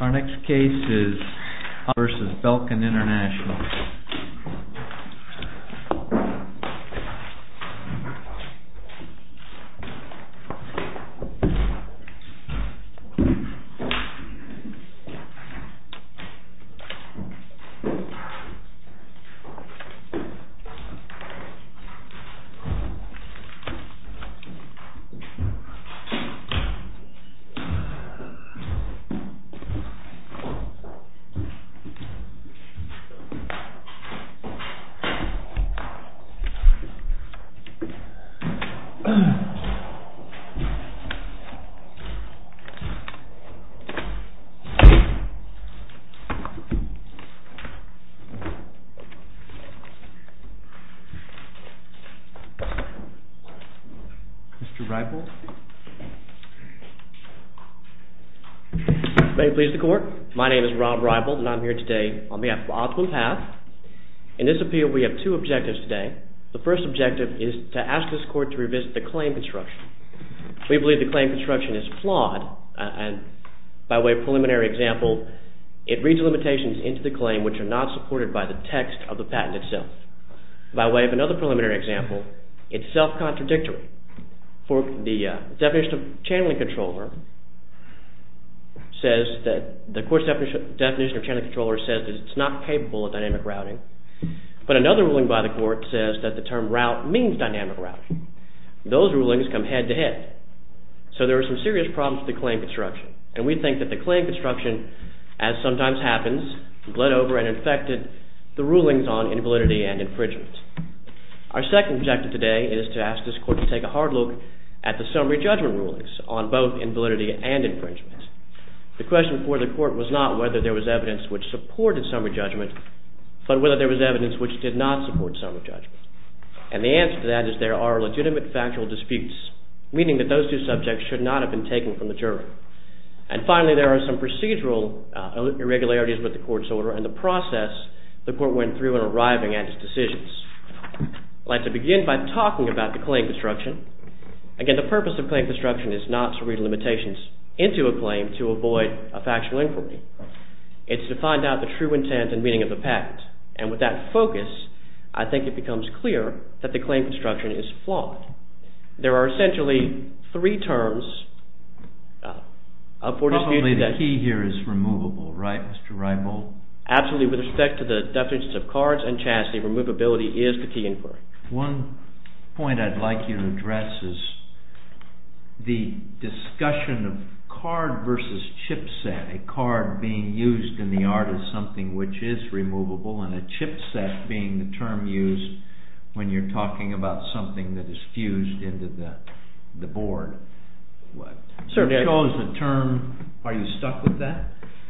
Our next case is Hopper v. Belkin Intl. Mr. RIPPLE May it please the court, my name is Rob Ripple and I'm here today on behalf of Optimum Path. In this appeal we have two objectives today. The first objective is to ask this court to revisit the claim construction. We believe the claim construction is flawed and by way of preliminary example, it reads limitations into the claim which are not supported by the text of the patent itself. By way of another preliminary example, it's self-contradictory. The definition of channeling controller says that it's not capable of dynamic routing. But another ruling by the court says that the term route means dynamic routing. Those rulings come head to head. So there are some serious problems with the claim construction. And we think that the claim construction, as sometimes happens, bled over and infected the rulings on invalidity and infringement. Our second objective today is to ask this court to take a hard look at the summary judgment rulings on both invalidity and infringement. The question for the court was not whether there was evidence which supported summary judgment, but whether there was evidence which did not support summary judgment. And the answer to that is there are legitimate factual disputes, And finally, there are some procedural irregularities with the court's order and the process the court went through in arriving at its decisions. I'd like to begin by talking about the claim construction. Again, the purpose of claim construction is not to read limitations into a claim to avoid a factual inquiry. It's to find out the true intent and meaning of the patent. And with that focus, I think it becomes clear that the claim construction is flawed. There are essentially three terms for disputing that. Probably the key here is removable, right, Mr. Reibold? Absolutely. With respect to the definitions of cards and chastity, removability is the key inquiry. One point I'd like you to address is the discussion of card versus chipset. A card being used in the art of something which is removable, and a chipset being the term used when you're talking about something that is fused into the board. Are you stuck with that?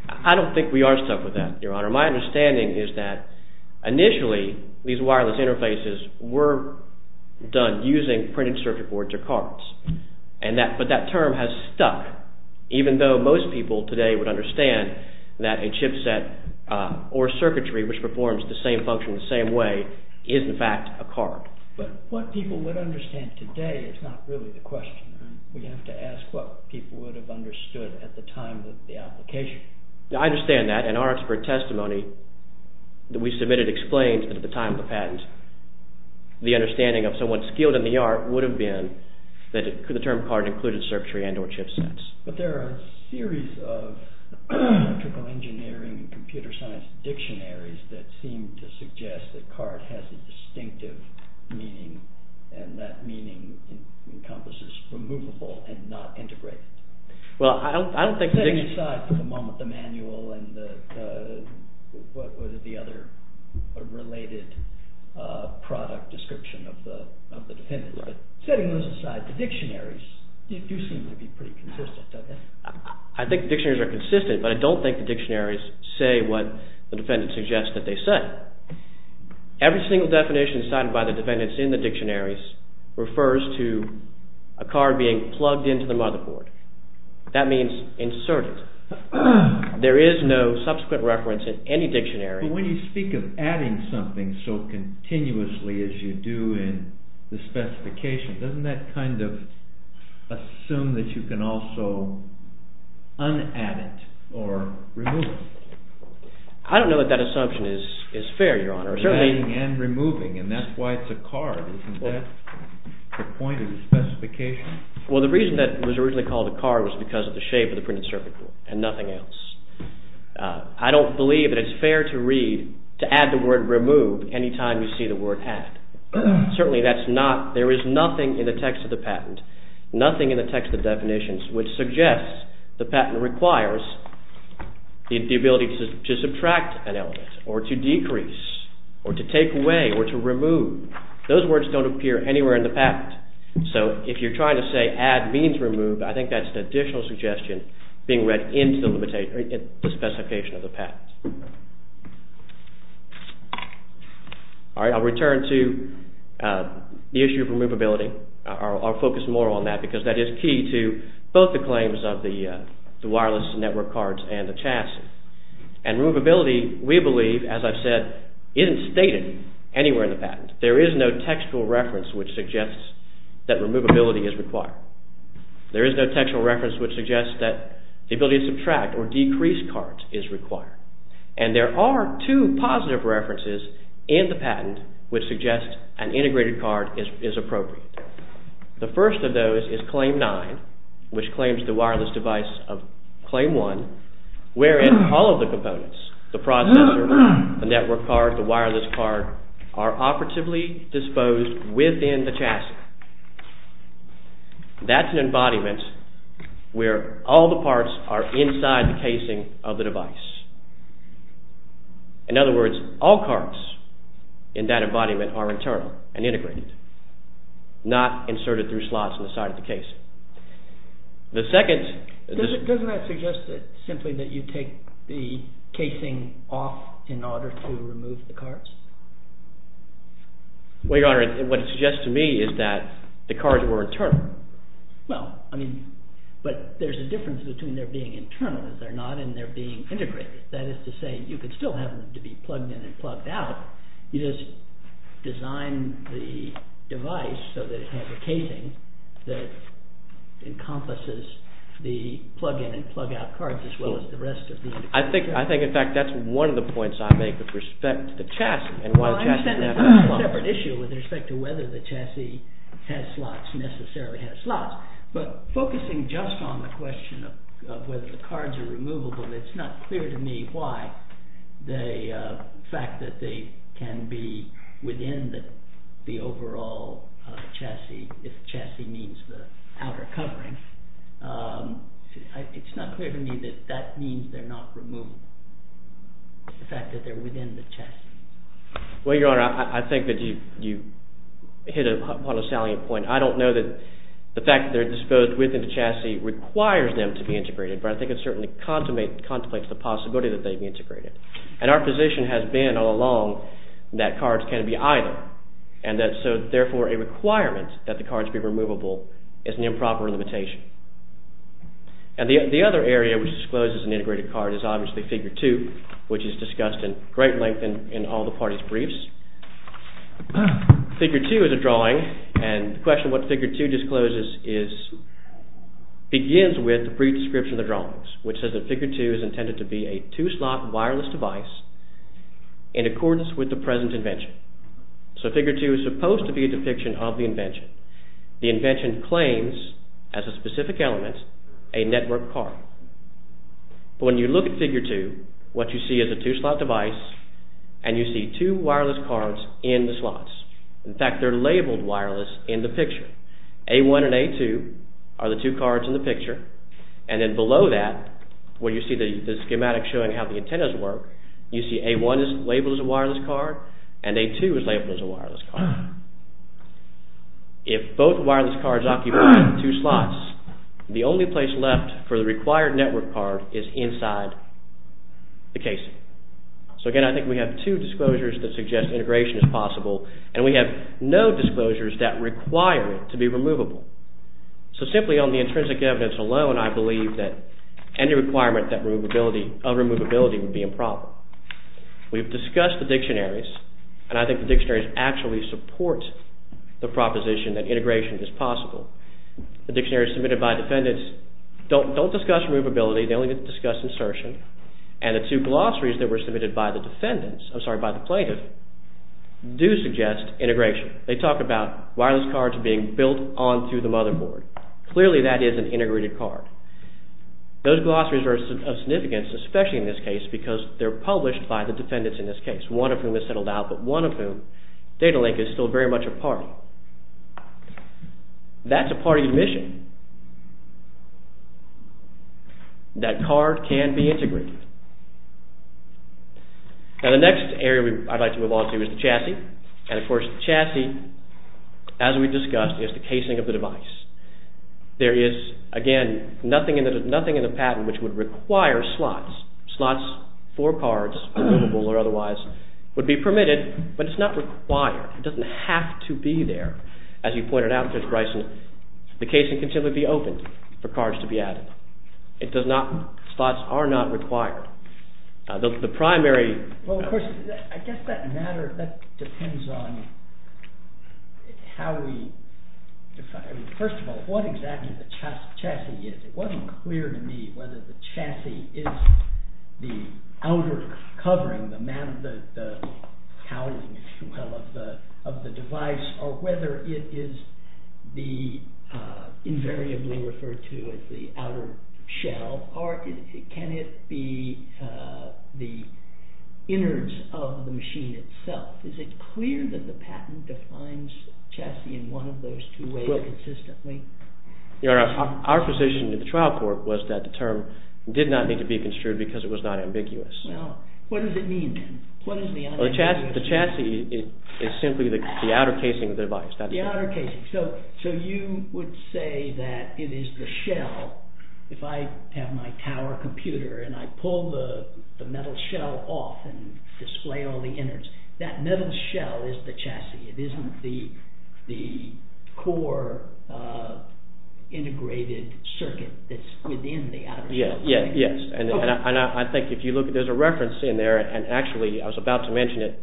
I don't think we are stuck with that, Your Honor. My understanding is that initially these wireless interfaces were done using printed circuit boards or cards, but that term has stuck, even though most people today would understand that a chipset or circuitry which performs the same function in the same way is in fact a card. But what people would understand today is not really the question. We have to ask what people would have understood at the time of the application. I understand that, and our expert testimony that we submitted explains that at the time of the patent, the understanding of someone skilled in the art would have been that the term card included circuitry and or chipsets. But there are a series of electrical engineering and computer science dictionaries that seem to suggest that card has a distinctive meaning, and that meaning encompasses removable and not integrated. Setting aside for the moment the manual and the other related product description of the defendant, setting those aside, the dictionaries do seem to be pretty consistent. I think dictionaries are consistent, but I don't think the dictionaries say what the defendant suggests that they say. Every single definition cited by the defendants in the dictionaries refers to a card being plugged into the motherboard. That means inserted. There is no subsequent reference in any dictionary. But when you speak of adding something so continuously as you do in the specification, doesn't that kind of assume that you can also un-add it or remove it? I don't know that that assumption is fair, Your Honor. Adding and removing, and that's why it's a card. Isn't that the point of the specification? Well, the reason that it was originally called a card was because of the shape of the printed circuit board and nothing else. I don't believe that it's fair to read, to add the word remove anytime you see the word add. Certainly that's not, there is nothing in the text of the patent, nothing in the text of the definitions which suggests the patent requires the ability to subtract an element or to decrease or to take away or to remove. Those words don't appear anywhere in the patent. So if you're trying to say add means remove, I think that's an additional suggestion being read into the specification of the patent. All right, I'll return to the issue of removability. I'll focus more on that because that is key to both the claims of the wireless network cards and the chassis. And removability, we believe, as I've said, isn't stated anywhere in the patent. There is no textual reference which suggests that removability is required. There is no textual reference which suggests that the ability to subtract or decrease cards is required. And there are two positive references in the patent which suggest an integrated card is appropriate. The first of those is Claim 9 which claims the wireless device of Claim 1 wherein all of the components, the processor, the network card, the wireless card are operatively disposed within the chassis. That's an embodiment where all the parts are inside the casing of the device. In other words, all cards in that embodiment are internal and integrated, not inserted through slots in the side of the casing. The second… Doesn't that suggest simply that you take the casing off in order to remove the cards? Well, Your Honor, what it suggests to me is that the cards were internal. Well, I mean, but there's a difference between their being internal, if they're not, and their being integrated. That is to say, you could still have them to be plugged in and plugged out. You just design the device so that it has a casing that encompasses the plug-in and plug-out cards as well as the rest of the… I think, in fact, that's one of the points I make with respect to the chassis. Well, I understand that's a separate issue with respect to whether the chassis has slots, necessarily has slots. But focusing just on the question of whether the cards are removable, it's not clear to me why the fact that they can be within the overall chassis, if chassis means the outer covering, it's not clear to me that that means they're not removable, the fact that they're within the chassis. Well, Your Honor, I think that you hit upon a salient point. I don't know that the fact that they're disposed within the chassis requires them to be integrated, but I think it certainly contemplates the possibility that they'd be integrated. And our position has been all along that cards can be either, and that so therefore a requirement that the cards be removable is an improper limitation. And the other area which discloses an integrated card is obviously Figure 2, which is discussed in great length in all the parties' briefs. Figure 2 is a drawing, and the question what Figure 2 discloses is, begins with a brief description of the drawings, which says that Figure 2 is intended to be a two-slot wireless device in accordance with the present invention. So Figure 2 is supposed to be a depiction of the invention. The invention claims, as a specific element, a network card. But when you look at Figure 2, what you see is a two-slot device, and you see two wireless cards in the slots. In fact, they're labeled wireless in the picture. A1 and A2 are the two cards in the picture, and then below that, where you see the schematic showing how the antennas work, you see A1 is labeled as a wireless card, and A2 is labeled as a wireless card. If both wireless cards occupy two slots, the only place left for the required network card is inside the casing. So again, I think we have two disclosures that suggest integration is possible, and we have no disclosures that require it to be removable. So simply on the intrinsic evidence alone, I believe that any requirement of removability would be a problem. We've discussed the dictionaries, and I think the dictionaries actually support the proposition that integration is possible. The dictionaries submitted by defendants don't discuss removability. They only discuss insertion, and the two glossaries that were submitted by the plaintiff do suggest integration. They talk about wireless cards being built onto the motherboard. Clearly, that is an integrated card. Those glossaries are of significance, especially in this case, because they're published by the defendants in this case, one of whom has settled out, but one of whom, Datalink, is still very much a party. That's a party admission. That card can be integrated. Now, the next area I'd like to move on to is the chassis, and, of course, the chassis, as we discussed, is the casing of the device. There is, again, nothing in the patent which would require slots. Slots for cards, removable or otherwise, would be permitted, but it's not required. It doesn't have to be there. As you pointed out, Judge Bryson, the casing can simply be opened for cards to be added. Slots are not required. The primary... Well, of course, I guess that depends on how we define it. First of all, what exactly the chassis is. It wasn't clear to me whether the chassis is the outer covering, the housing, if you will, of the device, or whether it is invariably referred to as the outer shell, or can it be the innards of the machine itself. Is it clear that the patent defines chassis in one of those two ways consistently? Your Honor, our position at the trial court was that the term did not need to be construed because it was not ambiguous. Well, what does it mean then? The chassis is simply the outer casing of the device. So you would say that it is the shell. If I have my tower computer and I pull the metal shell off and display all the innards, that metal shell is the chassis. It isn't the core integrated circuit that's within the outer shell. Yes. And I think if you look, there's a reference in there, and actually I was about to mention it,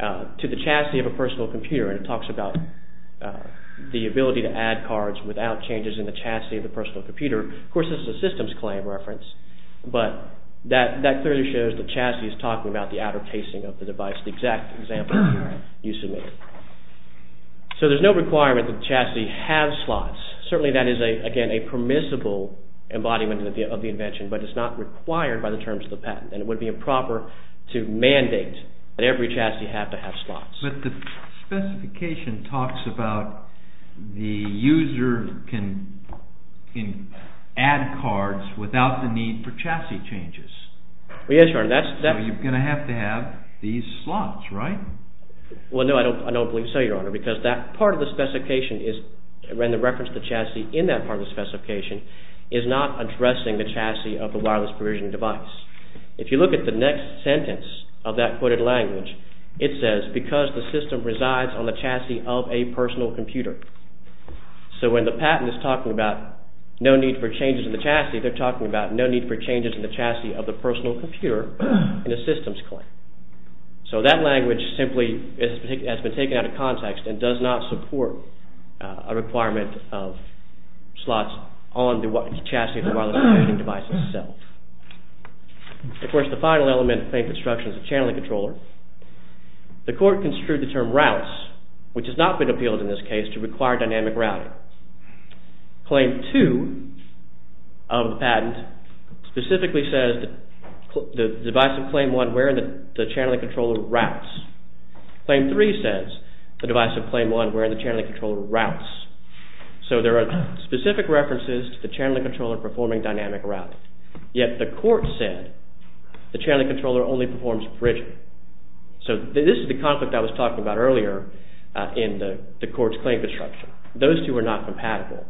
to the chassis of a personal computer, and it talks about the ability to add cards without changes in the chassis of the personal computer. Of course, this is a systems claim reference, but that clearly shows the chassis is talking about the outer casing of the device, the exact example you submitted. So there's no requirement that the chassis have slots. Certainly that is, again, a permissible embodiment of the invention, but it's not required by the terms of the patent, and it would be improper to mandate that every chassis have to have slots. But the specification talks about the user can add cards without the need for chassis changes. Yes, Your Honor. So you're going to have to have these slots, right? Well, no, I don't believe so, Your Honor, because that part of the specification is, and the reference to the chassis in that part of the specification, is not addressing the chassis of the wireless provision device. If you look at the next sentence of that quoted language, it says, because the system resides on the chassis of a personal computer. So when the patent is talking about no need for changes in the chassis, they're talking about no need for changes in the chassis of the personal computer in a systems claim. So that language simply has been taken out of context and does not support a requirement of slots on the chassis of the wireless provision device itself. Of course, the final element of claim construction is the channeling controller. The court construed the term routes, which has not been appealed in this case to require dynamic routing. Claim 2 of the patent specifically says the device of claim 1 where the channeling controller routes. Claim 3 says the device of claim 1 where the channeling controller routes. So there are specific references to the channeling controller performing dynamic routing. Yet the court said the channeling controller only performs bridging. So this is the conflict I was talking about earlier in the court's claim construction. Those two are not compatible.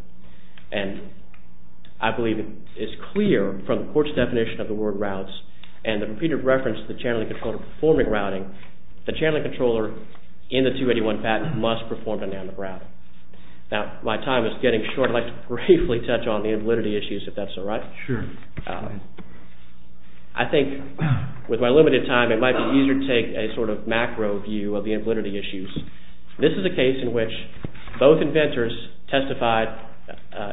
And I believe it is clear from the court's definition of the word routes and the repeated reference to the channeling controller performing routing, the channeling controller in the 281 patent must perform dynamic routing. Now, my time is getting short. I'd like to briefly touch on the invalidity issues, if that's all right. Sure. I think with my limited time, it might be easier to take a sort of macro view of the invalidity issues. This is a case in which both inventors testified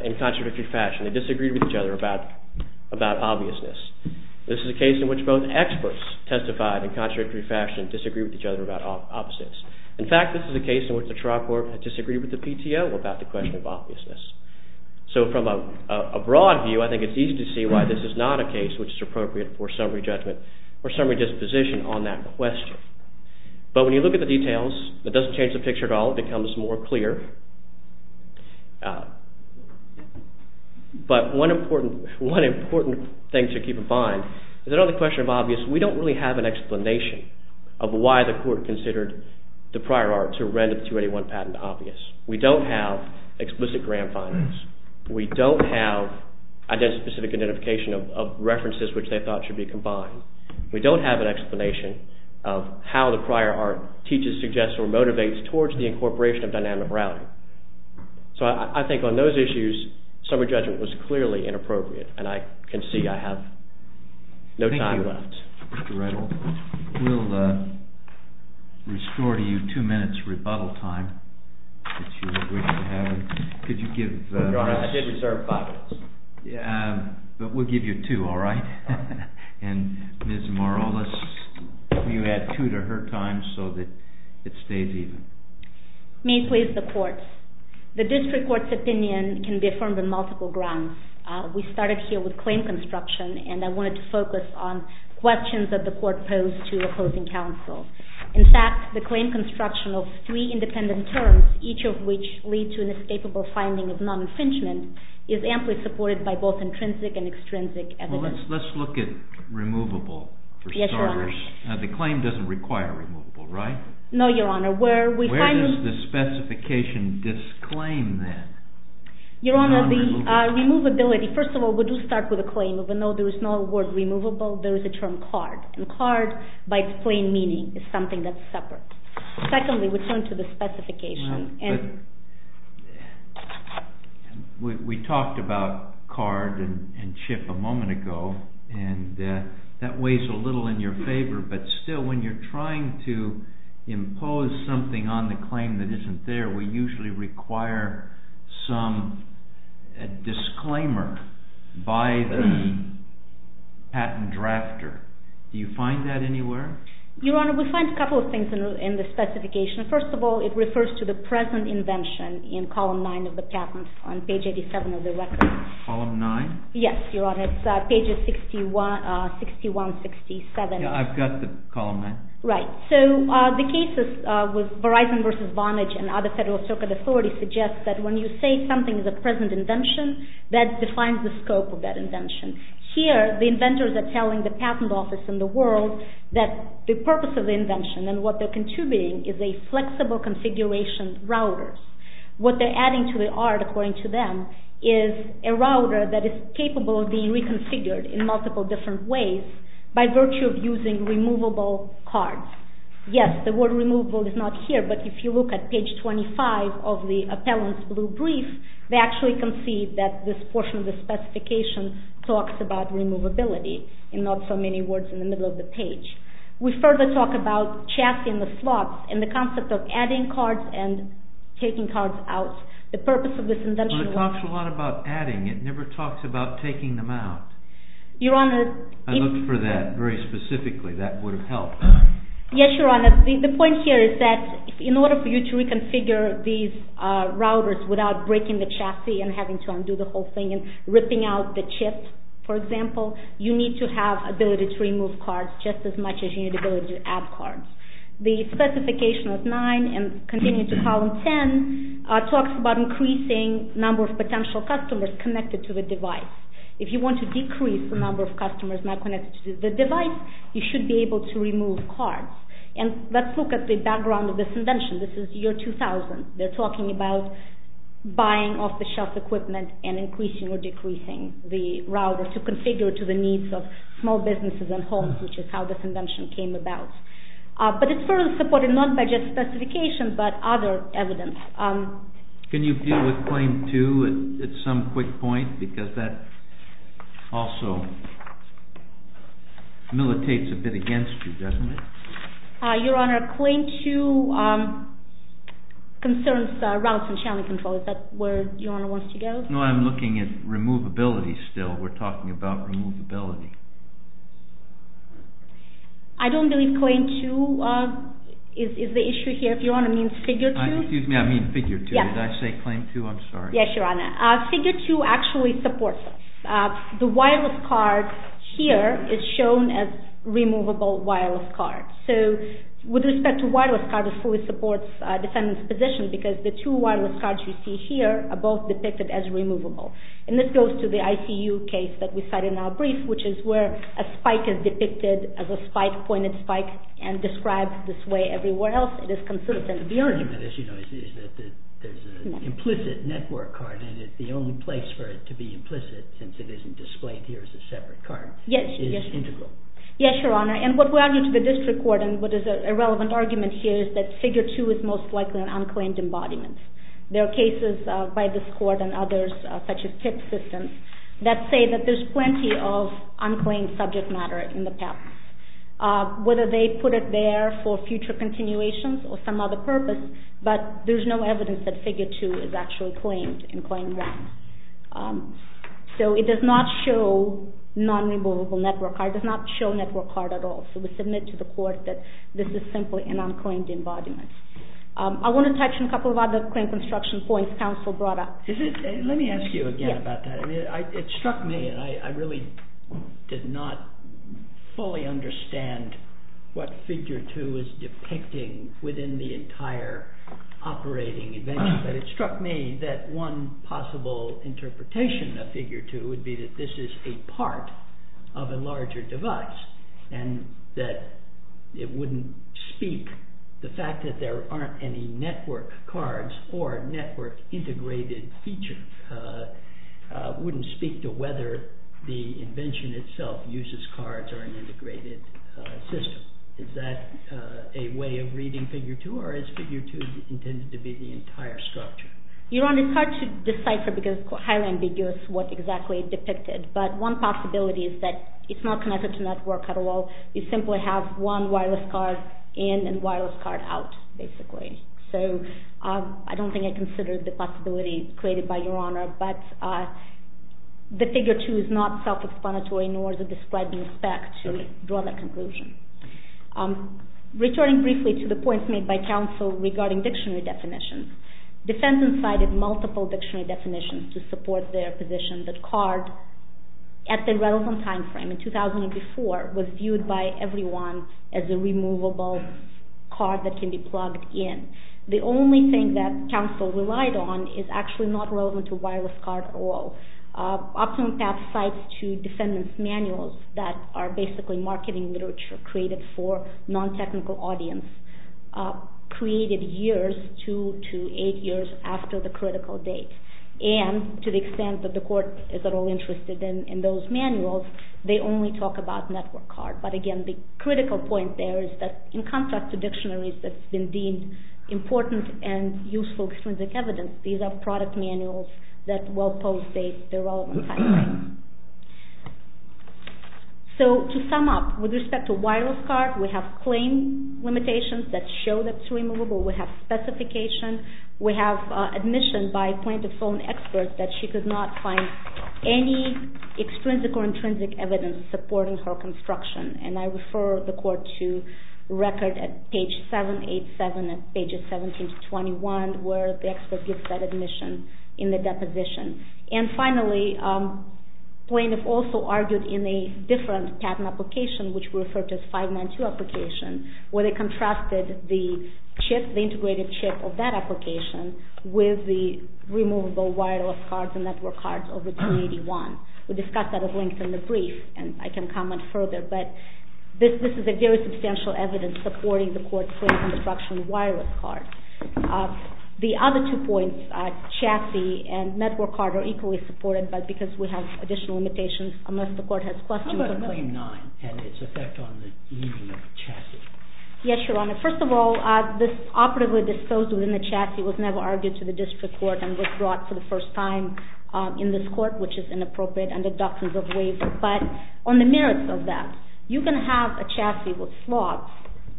in contradictory fashion. They disagreed with each other about obviousness. This is a case in which both experts testified in contradictory fashion and disagreed with each other about opposites. In fact, this is a case in which the trial court disagreed with the PTO about the question of obviousness. So from a broad view, I think it's easy to see why this is not a case which is appropriate for summary judgment or summary disposition on that question. But when you look at the details, it doesn't change the picture at all. It becomes more clear. But one important thing to keep in mind is that on the question of obvious, we don't really have an explanation of why the court considered the prior art to render the 281 patent obvious. We don't have explicit grant findings. We don't have specific identification of references which they thought should be combined. We don't have an explanation of how the prior art teaches, suggests, or motivates towards the incorporation of dynamic morality. So I think on those issues, summary judgment was clearly inappropriate and I can see I have no time left. Thank you, Mr. Reynolds. We'll restore to you two minutes rebuttal time. If you wish to have it. Your Honor, I did reserve five minutes. Yeah, but we'll give you two, all right? And Ms. Morales, you add two to her time so that it stays even. May it please the court. The district court's opinion can be affirmed on multiple grounds. We started here with claim construction and I wanted to focus on questions that the court posed to opposing counsel. In fact, the claim construction of three independent terms, each of which lead to an escapable finding of non-infringement, is amply supported by both intrinsic and extrinsic evidence. Well, let's look at removable for starters. Yes, Your Honor. The claim doesn't require removable, right? No, Your Honor. Where does the specification disclaim then? Your Honor, the removability. First of all, we do start with a claim of a note. There is no word removable. There is a term card. And card, by its plain meaning, is something that's separate. Secondly, we turn to the specification. We talked about card and chip a moment ago, and that weighs a little in your favor, but still when you're trying to impose something on the claim that isn't there, we usually require some disclaimer by the patent drafter. Do you find that anywhere? Your Honor, we find a couple of things in the specification. First of all, it refers to the present invention in column 9 of the patent, on page 87 of the record. Column 9? Yes, Your Honor. It's pages 61, 67. Yeah, I've got the column 9. Right. So the cases with Verizon versus Vonage and other Federal Circuit authorities suggest that when you say something is a present invention, that defines the scope of that invention. Here, the inventors are telling the patent office in the world that the purpose of the invention and what they're contributing is a flexible configuration router. What they're adding to the art, according to them, is a router that is capable of being reconfigured in multiple different ways by virtue of using removable cards. Yes, the word removable is not here, but if you look at page 25 of the appellant's blue brief, they actually concede that this portion of the specification talks about removability and not so many words in the middle of the page. We further talk about chassis in the slots and the concept of adding cards and taking cards out. The purpose of this invention was to... Well, it talks a lot about adding. It never talks about taking them out. Your Honor... I looked for that very specifically. That would have helped. Yes, Your Honor. The point here is that in order for you to reconfigure these routers without breaking the chassis and having to undo the whole thing and ripping out the chip, for example, you need to have ability to remove cards just as much as you need ability to add cards. The specification of 9 and continuing to column 10 talks about increasing number of potential customers connected to the device. If you want to decrease the number of customers not connected to the device, you should be able to remove cards. And let's look at the background of this invention. This is year 2000. They're talking about buying off-the-shelf equipment and increasing or decreasing the router to configure to the needs of small businesses and homes, which is how this invention came about. But it's further supported not by just specification but other evidence. Can you deal with claim 2 at some quick point because that also militates a bit against you, doesn't it? Your Honor, claim 2 concerns routes and channel control. Is that where Your Honor wants to go? No, I'm looking at removability still. We're talking about removability. I don't believe claim 2 is the issue here. If Your Honor means figure 2. Excuse me, I mean figure 2. Did I say claim 2? I'm sorry. Yes, Your Honor. Figure 2 actually supports it. The wireless card here is shown as removable wireless card. So with respect to wireless card, it fully supports defendant's position because the two wireless cards you see here are both depicted as removable. And this goes to the ICU case that we cited in our brief, which is where a spike is depicted as a spike, pointed spike, and described this way everywhere else. It is consistent. The argument, as you know, is that there's an implicit network card and that the only place for it to be implicit, since it isn't displayed here as a separate card, is integral. Yes, Your Honor. And what we argue to the district court, and what is a relevant argument here, is that figure 2 is most likely an unclaimed embodiment. There are cases by this court and others, such as TIP system, that say that there's plenty of unclaimed subject matter in the past. Whether they put it there for future continuations or some other purpose, but there's no evidence that figure 2 is actually claimed in claim 1. So it does not show non-removable network card. It does not show network card at all. So we submit to the court that this is simply an unclaimed embodiment. I want to touch on a couple of other claim construction points counsel brought up. Let me ask you again about that. It struck me, and I really did not fully understand what figure 2 is depicting within the entire operating event, but it struck me that one possible interpretation of figure 2 would be that this is a part of a larger device and that it wouldn't speak the fact that there aren't any network cards or network integrated feature. It wouldn't speak to whether the invention itself uses cards or an integrated system. Is that a way of reading figure 2, or is figure 2 intended to be the entire structure? Your Honor, it's hard to decipher because it's highly ambiguous what exactly it depicted, but one possibility is that it's not connected to network at all. You simply have one wireless card in and wireless card out, basically. So I don't think I considered the possibility created by Your Honor, but the figure 2 is not self-explanatory nor is it described in the spec to draw that conclusion. Returning briefly to the points made by counsel regarding dictionary definitions, defense incited multiple dictionary definitions to support their position that card, at the relevant time frame, in 2004, was viewed by everyone as a removable card that can be plugged in. The only thing that counsel relied on is actually not relevant to wireless card at all. OptumPath cites two defendant's manuals that are basically marketing literature created for non-technical audience, created years, two to eight years, after the critical date. And to the extent that the court is at all interested in those manuals, they only talk about network card. But again, the critical point there is that in contrast to dictionaries that's been deemed important and useful extrinsic evidence, these are product manuals that well post-date their relevant timeline. So to sum up, with respect to wireless card, we have claim limitations that show that it's removable. We have specification. We have admission by point-of-phone experts that she could not find any extrinsic or intrinsic evidence supporting her construction. And I refer the court to record at page 787 and pages 17 to 21, where the expert gives that admission in the deposition. And finally, plaintiff also argued in a different patent application, which we refer to as 592 application, where they contrasted the integrated chip of that application with the removable wireless cards and network cards of the 281. We discussed that at length in the brief, and I can comment further, but this is a very substantial evidence supporting the court's claim of construction of wireless cards. The other two points, chassis and network card, are equally supported, but because we have additional limitations, unless the court has questions about them. How about claim 9 and its effect on the easing of the chassis? Yes, Your Honor. First of all, this operatively disposed within the chassis was never argued to the district court and was brought for the first time in this court, which is inappropriate under doctrines of waiver. But on the merits of that, you can have a chassis with slots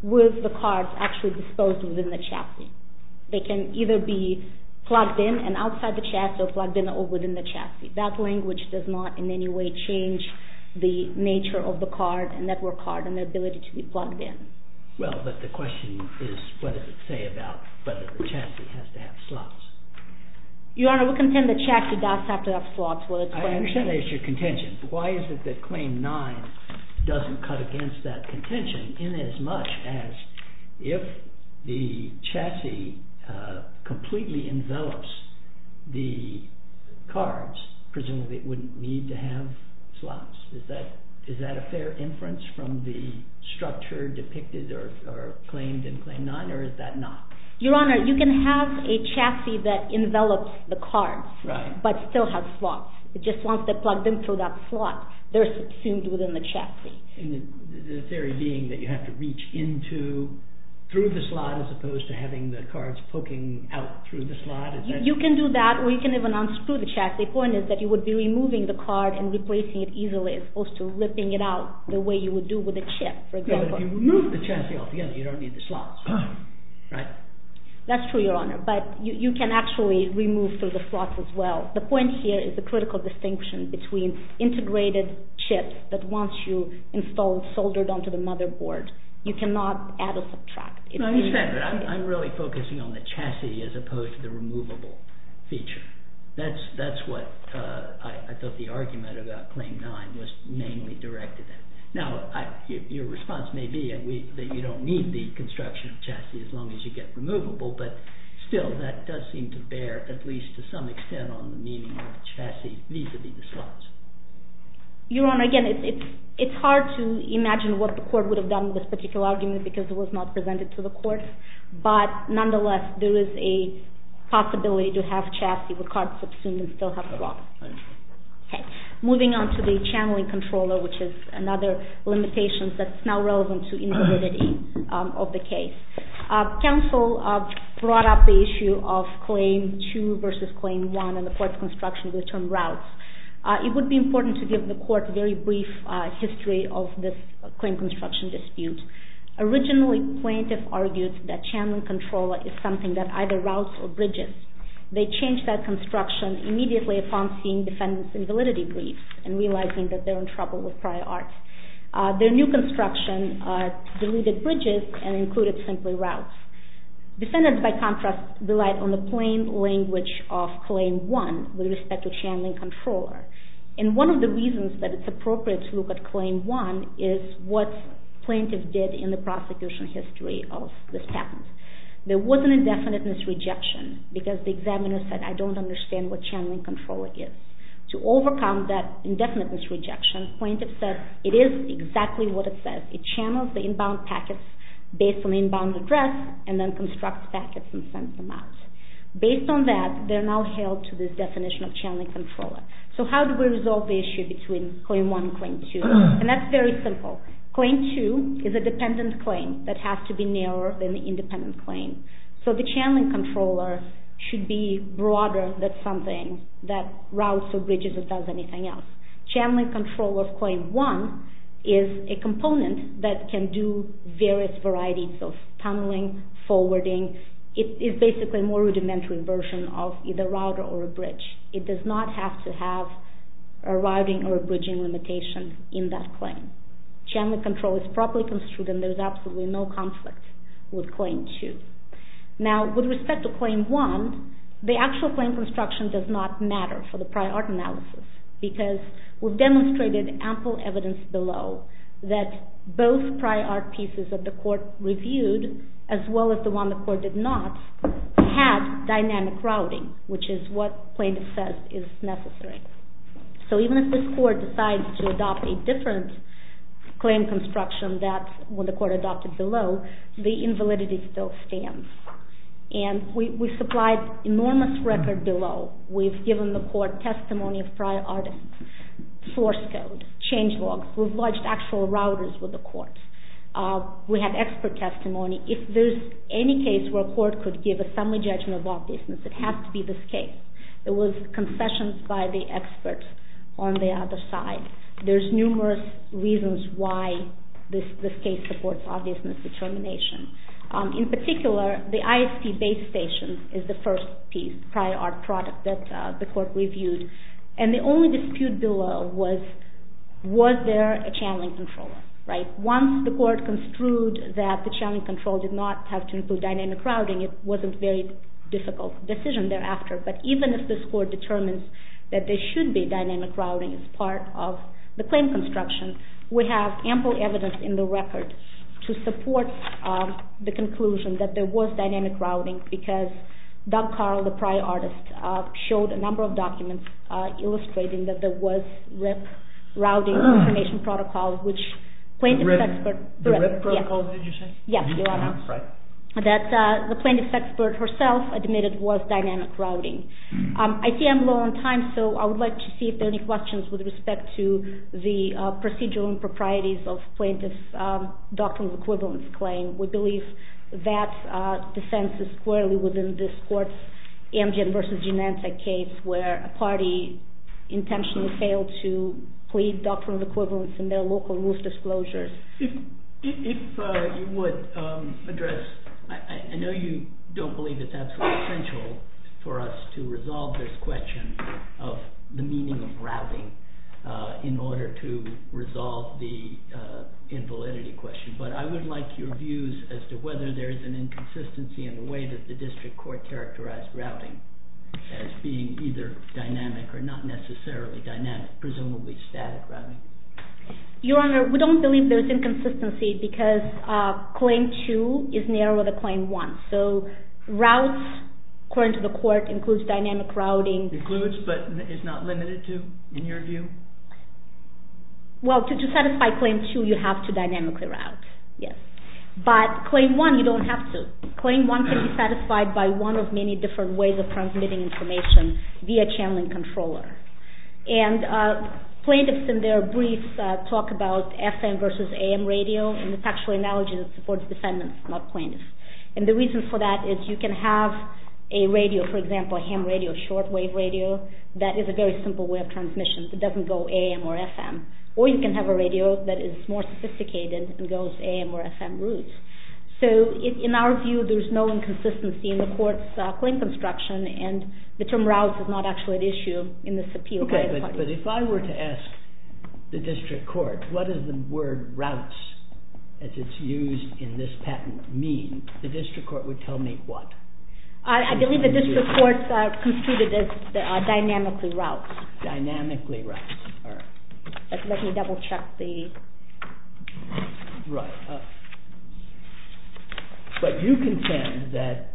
with the cards actually disposed within the chassis. They can either be plugged in and outside the chassis or plugged in or within the chassis. That language does not in any way change the nature of the card and network card and their ability to be plugged in. Well, but the question is, what does it say about whether the chassis has to have slots? Your Honor, we contend the chassis does have to have slots. I understand that is your contention. Why is it that claim 9 doesn't cut against that contention in as much as if the chassis completely envelops the cards, presumably it wouldn't need to have slots. Is that a fair inference from the structure depicted or claimed in claim 9, or is that not? Right. But still has slots. It just wants to plug them through that slot. They're subsumed within the chassis. And the theory being that you have to reach into, through the slot as opposed to having the cards poking out through the slot? You can do that, or you can even unscrew the chassis. The point is that you would be removing the card and replacing it easily as opposed to ripping it out the way you would do with a chip, for example. But if you remove the chassis altogether, you don't need the slots, right? That's true, Your Honor. But you can actually remove through the slots as well. The point here is the critical distinction between integrated chips that once you install, soldered onto the motherboard, you cannot add or subtract. I understand that. I'm really focusing on the chassis as opposed to the removable feature. That's what I thought the argument about claim 9 was mainly directed at. Now, your response may be that you don't need the construction of chassis as long as you get removable, but still, that does seem to bear, at least to some extent, on the meaning of chassis vis-a-vis the slots. Your Honor, again, it's hard to imagine what the court would have done with this particular argument because it was not presented to the court. But nonetheless, there is a possibility to have chassis with cards subsumed and still have slots. Moving on to the channeling controller, which is another limitation that's now relevant to integrity of the case. Counsel brought up the issue of claim 2 versus claim 1 in the court's construction of the term routes. It would be important to give the court a very brief history of this claim construction dispute. Originally, plaintiff argued that channeling controller is something that either routes or bridges. They changed that construction immediately upon seeing defendants in validity brief and realizing that they're in trouble with prior art. Their new construction deleted bridges and included simply routes. Defendants, by contrast, relied on the plain language of claim 1 with respect to channeling controller. And one of the reasons that it's appropriate to look at claim 1 is what plaintiff did in the prosecution history of this patent. There was an indefiniteness rejection because the examiner said, I don't understand what channeling controller is. To overcome that indefiniteness rejection, plaintiff said, it is exactly what it says. It channels the inbound packets based on the inbound address and then constructs packets and sends them out. Based on that, they're now held to this definition of channeling controller. So how do we resolve the issue between claim 1 and claim 2? And that's very simple. Claim 2 is a dependent claim that has to be narrower than the independent claim. So the channeling controller should be broader than something that routes or bridges or does anything else. Channeling controller of claim 1 is a component that can do various varieties of tunneling, forwarding. It is basically a more rudimentary version of either router or a bridge. It does not have to have a routing or a bridging limitation in that claim. Channeling control is properly construed and there is absolutely no conflict with claim 2. Now, with respect to claim 1, the actual claim construction does not matter for the prior art analysis because we've demonstrated ample evidence below that both prior art pieces that the court reviewed as well as the one the court did not had dynamic routing, which is what plaintiff says is necessary. So even if this court decides to adopt a different claim construction than what the court adopted below, the invalidity still stands. And we supplied enormous record below. We've given the court testimony of prior art source code, change logs. We've lodged actual routers with the court. We have expert testimony. If there's any case where a court could give a summary judgment of obviousness, it has to be this case. There was concessions by the experts on the other side. There's numerous reasons why this case supports obviousness determination. In particular, the ISP base station is the first piece, prior art product, that the court reviewed. And the only dispute below was, was there a channeling controller? Once the court construed that the channeling control did not have to include dynamic routing, it wasn't a very difficult decision thereafter. But even if this court determines that there should be dynamic routing as part of the claim construction, we have ample evidence in the record to support the conclusion that there was dynamic routing because Doug Carl, the prior artist, showed a number of documents illustrating that there was RIP routing information protocol, which plaintiff's expert. The RIP protocol, did you say? Yes, Your Honor. That the plaintiff's expert herself admitted was dynamic routing. I see I'm low on time, so I would like to see if there are any questions with respect to the procedural improprieties of plaintiff's doctrinal equivalence claim. We believe that defense is squarely within this court's Amgen versus Genentech case, where a party intentionally failed to plead doctrinal equivalence in their local rules disclosures. If you would address, I know you don't believe it's absolutely essential for us to resolve this question of the meaning of routing in order to resolve the invalidity question. But I would like your views as to whether there is an inconsistency in the way that the district court characterized routing as being either dynamic or not necessarily dynamic, presumably static routing. Your Honor, we don't believe there's inconsistency because Claim 2 is narrower than Claim 1. So routes, according to the court, includes dynamic routing. Includes, but is not limited to, in your view? Well, to satisfy Claim 2, you have to dynamically route. But Claim 1, you don't have to. Claim 1 can be satisfied by one of many different ways of transmitting information via channeling controller. And plaintiffs in their briefs talk about FM versus AM radio. And it's actually an analogy that supports defendants, not plaintiffs. And the reason for that is you can have a radio, for example, a ham radio, a shortwave radio, that is a very simple way of transmission. It doesn't go AM or FM. Or you can have a radio that is more sophisticated and goes AM or FM routes. So in our view, there's no inconsistency in the court's claim construction. And the term routes is not actually at issue in this appeal. OK. But if I were to ask the district court, what does the word routes, as it's used in this patent, mean? The district court would tell me what? I believe the district courts have treated it as dynamically routes. Dynamically routes. All right. Let me double check the. Right. But you contend that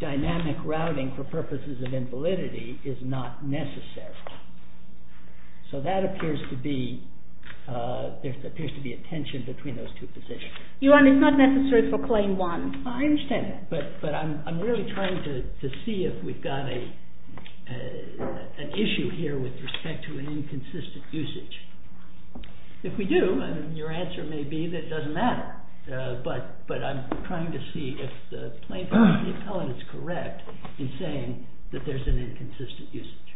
dynamic routing for purposes of invalidity is not necessary. So that appears to be a tension between those two positions. Your Honor, it's not necessary for Claim 1. I understand that. But I'm really trying to see if we've got an issue here with respect to an inconsistent usage. If we do, your answer may be that it doesn't matter. But I'm trying to see if the plaintiff and the appellant is correct in saying that there's an inconsistent usage.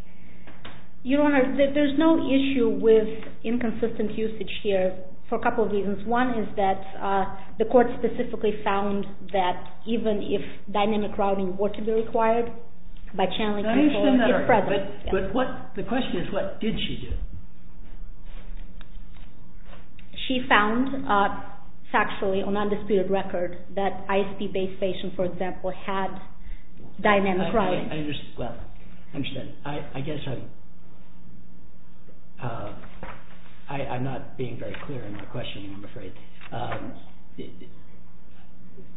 Your Honor, there's no issue with inconsistent usage here for a couple of reasons. One is that the court specifically found that even if dynamic routing were to be required by channeling control, it's present. But the question is, what did she do? She found factually on undisputed record that ISP-based patients, for example, had dynamic routing. I understand.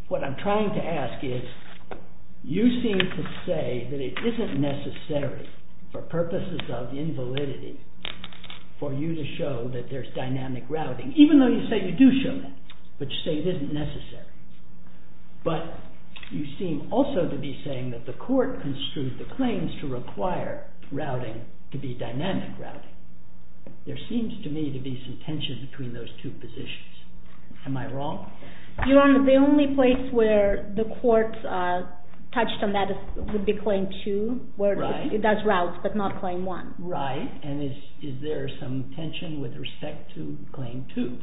What I'm trying to ask is, you seem to say that it isn't necessary for purposes of invalidity for you to show that there's dynamic routing, even though you say you do show that, but you say it isn't necessary. But you seem also to be saying that the court construed the claims to require routing to be dynamic routing. There seems to me to be some tension between those two issues. Am I wrong? Your Honor, the only place where the court touched on that would be Claim 2, where it does route, but not Claim 1. Right. And is there some tension with respect to Claim 2? Do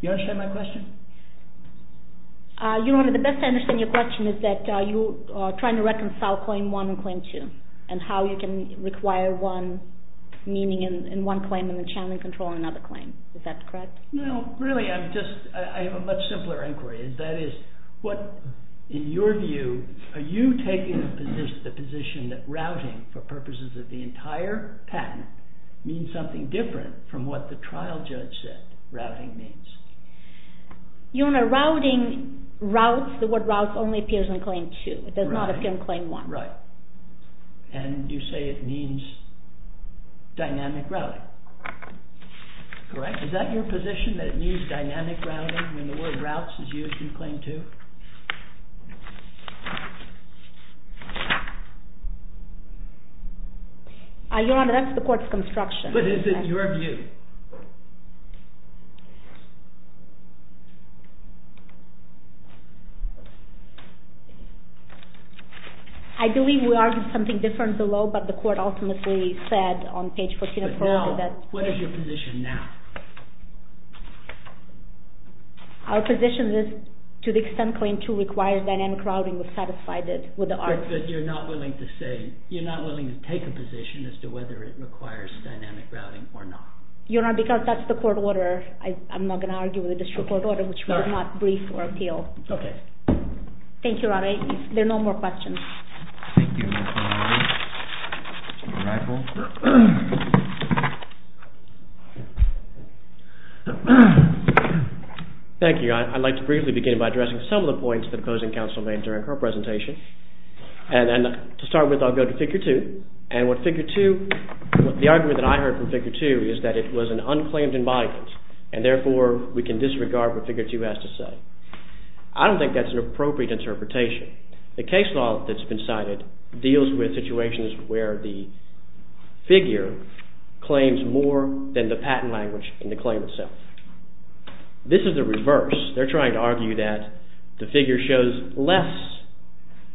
you understand my question? Your Honor, the best I understand your question is that you are trying to reconcile Claim 1 and Claim 2, and how you can require one meaning in one claim and then channel and control another claim. Is that correct? No, really. I have a much simpler inquiry. That is, in your view, are you taking the position that routing, for purposes of the entire patent, means something different from what the trial judge said routing means? Your Honor, routing routes, the word routes only appears in Claim 2. It does not appear in Claim 1. Right. And you say it means dynamic routing. Correct? Is that your position, that it means dynamic routing, when the word routes is used in Claim 2? Your Honor, that's the court's construction. But is it your view? I believe we argued something different below, but the court ultimately said on page 14 of the court order. But now, what is your position now? Our position is, to the extent Claim 2 requires dynamic routing, we're satisfied with the argument. But you're not willing to say, you're not willing to take a position as to whether it requires dynamic routing or not. Your Honor, because that's the court order, I'm not going to argue with the district court order, which would not brief or appeal. OK. Thank you, Your Honor. If there are no more questions. Thank you, Your Honor. Thank you. I'd like to briefly begin by addressing some of the points that opposing counsel made during her presentation. And to start with, I'll go to Figure 2. And what Figure 2, the argument that I heard from Figure 2 is that it was an unclaimed embodiment. And therefore, we can disregard what Figure 2 has to say. I don't think that's an appropriate interpretation. The case law that's been cited deals with situations where the figure claims more than the patent language in the claim itself. This is the reverse. They're trying to argue that the figure shows less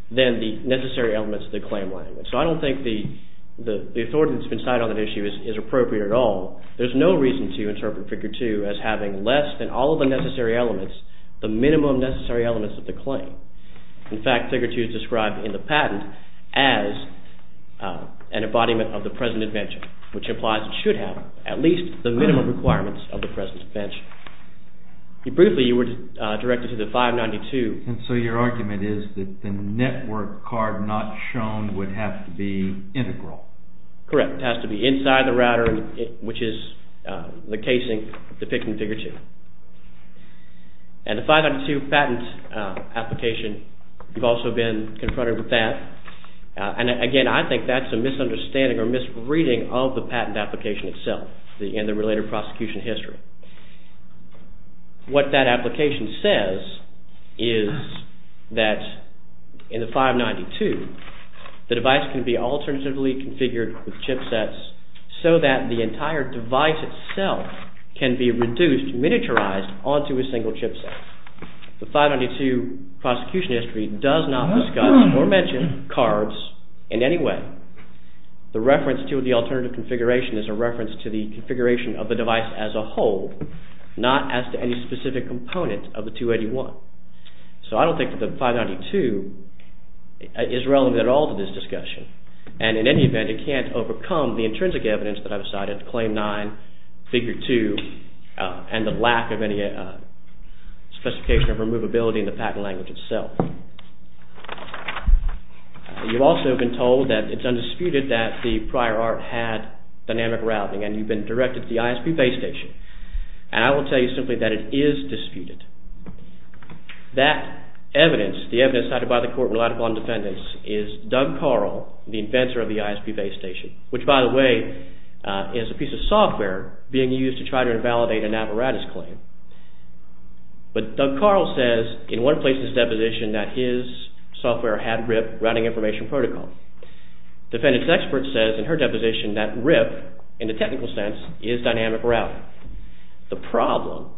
than the necessary elements of the claim language. So I don't think the authority that's been cited on that issue is appropriate at all. There's no reason to interpret Figure 2 as having less than all of the necessary elements, the minimum necessary elements of the claim. In fact, Figure 2 is described in the patent as an embodiment of the present invention, which implies it should have at least the minimum requirements of the present invention. Briefly, you were directed to the 592. And so your argument is that the network card not shown would have to be integral. Correct. It has to be inside the router, which is the casing depicted in Figure 2. And the 592 patent application, you've also been confronted with that. And again, I think that's a misunderstanding or misreading of the patent application itself and the related prosecution history. What that application says is that in the 592, the device can be alternatively configured with chipsets so that the entire device itself can be reduced, miniaturized onto a single chipset. The 592 prosecution history does not discuss or mention cards in any way. The reference to the alternative configuration is a reference to the configuration of the device as a whole, not as to any specific component of the 281. So I don't think that the 592 is relevant at all to this discussion. And in any event, it can't overcome the intrinsic evidence that I've cited, Claim 9, Figure 2, and the lack of any specification of removability in the patent language itself. You've also been told that it's undisputed that the prior art had dynamic routing, and you've been directed to the ISP base station. And I will tell you simply that it is disputed. That evidence, the evidence cited by the court and relied upon defendants, is Doug Carl, the inventor of the ISP base station, which, by the way, is a piece of software being used to try to invalidate an apparatus claim. But Doug Carl says in one place in his deposition that his software had RIP, Routing Information Protocol. Defendant's expert says in her deposition that RIP, in the technical sense, is dynamic routing. The problem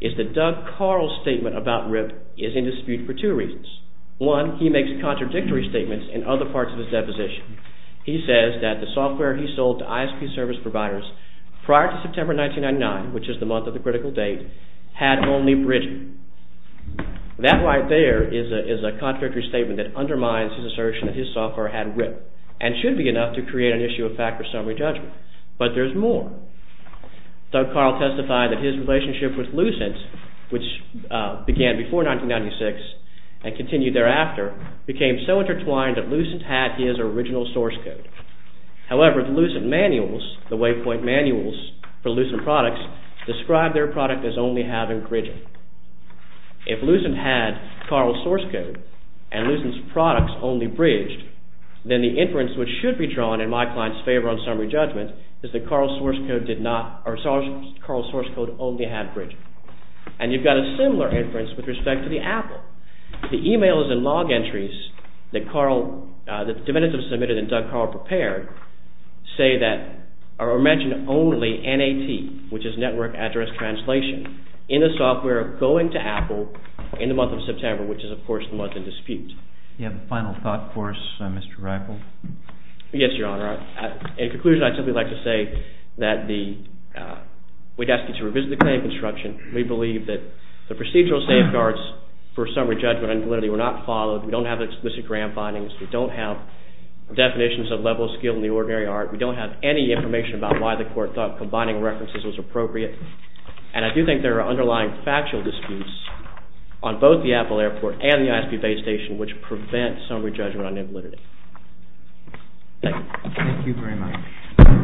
is that Doug Carl's statement about RIP is in dispute for two reasons. One, he makes contradictory statements in other parts of his deposition. He says that the software he sold to ISP service providers prior to September 1999, which is the month of the critical date, had only bridging. That right there is a contradictory statement that undermines his assertion that his software had RIP and should be enough to create an issue of fact or summary judgment. But there's more. Doug Carl testified that his relationship with Lucent, which began before 1996 and continued thereafter, became so intertwined that Lucent had his original source code. However, the Lucent manuals, the waypoint manuals for Lucent products, describe their product as only having bridging. If Lucent had Carl's source code and Lucent's products only bridged, then the inference which should be drawn in my client's favor on summary judgment is that Carl's source code only had bridging. And you've got a similar inference with respect to the Apple. The e-mails and log entries that the defendants have submitted and Doug Carl prepared say that or mention only NAT, which is network address translation, in the software going to Apple in the month of September, which is of course the month in dispute. Do you have a final thought for us, Mr. Reichelt? Yes, Your Honor. In conclusion, I'd simply like to say that we'd ask you to revisit the claim construction and we believe that the procedural safeguards for summary judgment on invalidity were not followed. We don't have explicit grant findings. We don't have definitions of level of skill in the ordinary art. We don't have any information about why the court thought combining references was appropriate. And I do think there are underlying factual disputes on both the Apple airport and the ISP base station which prevent summary judgment on invalidity. Thank you. Thank you very much.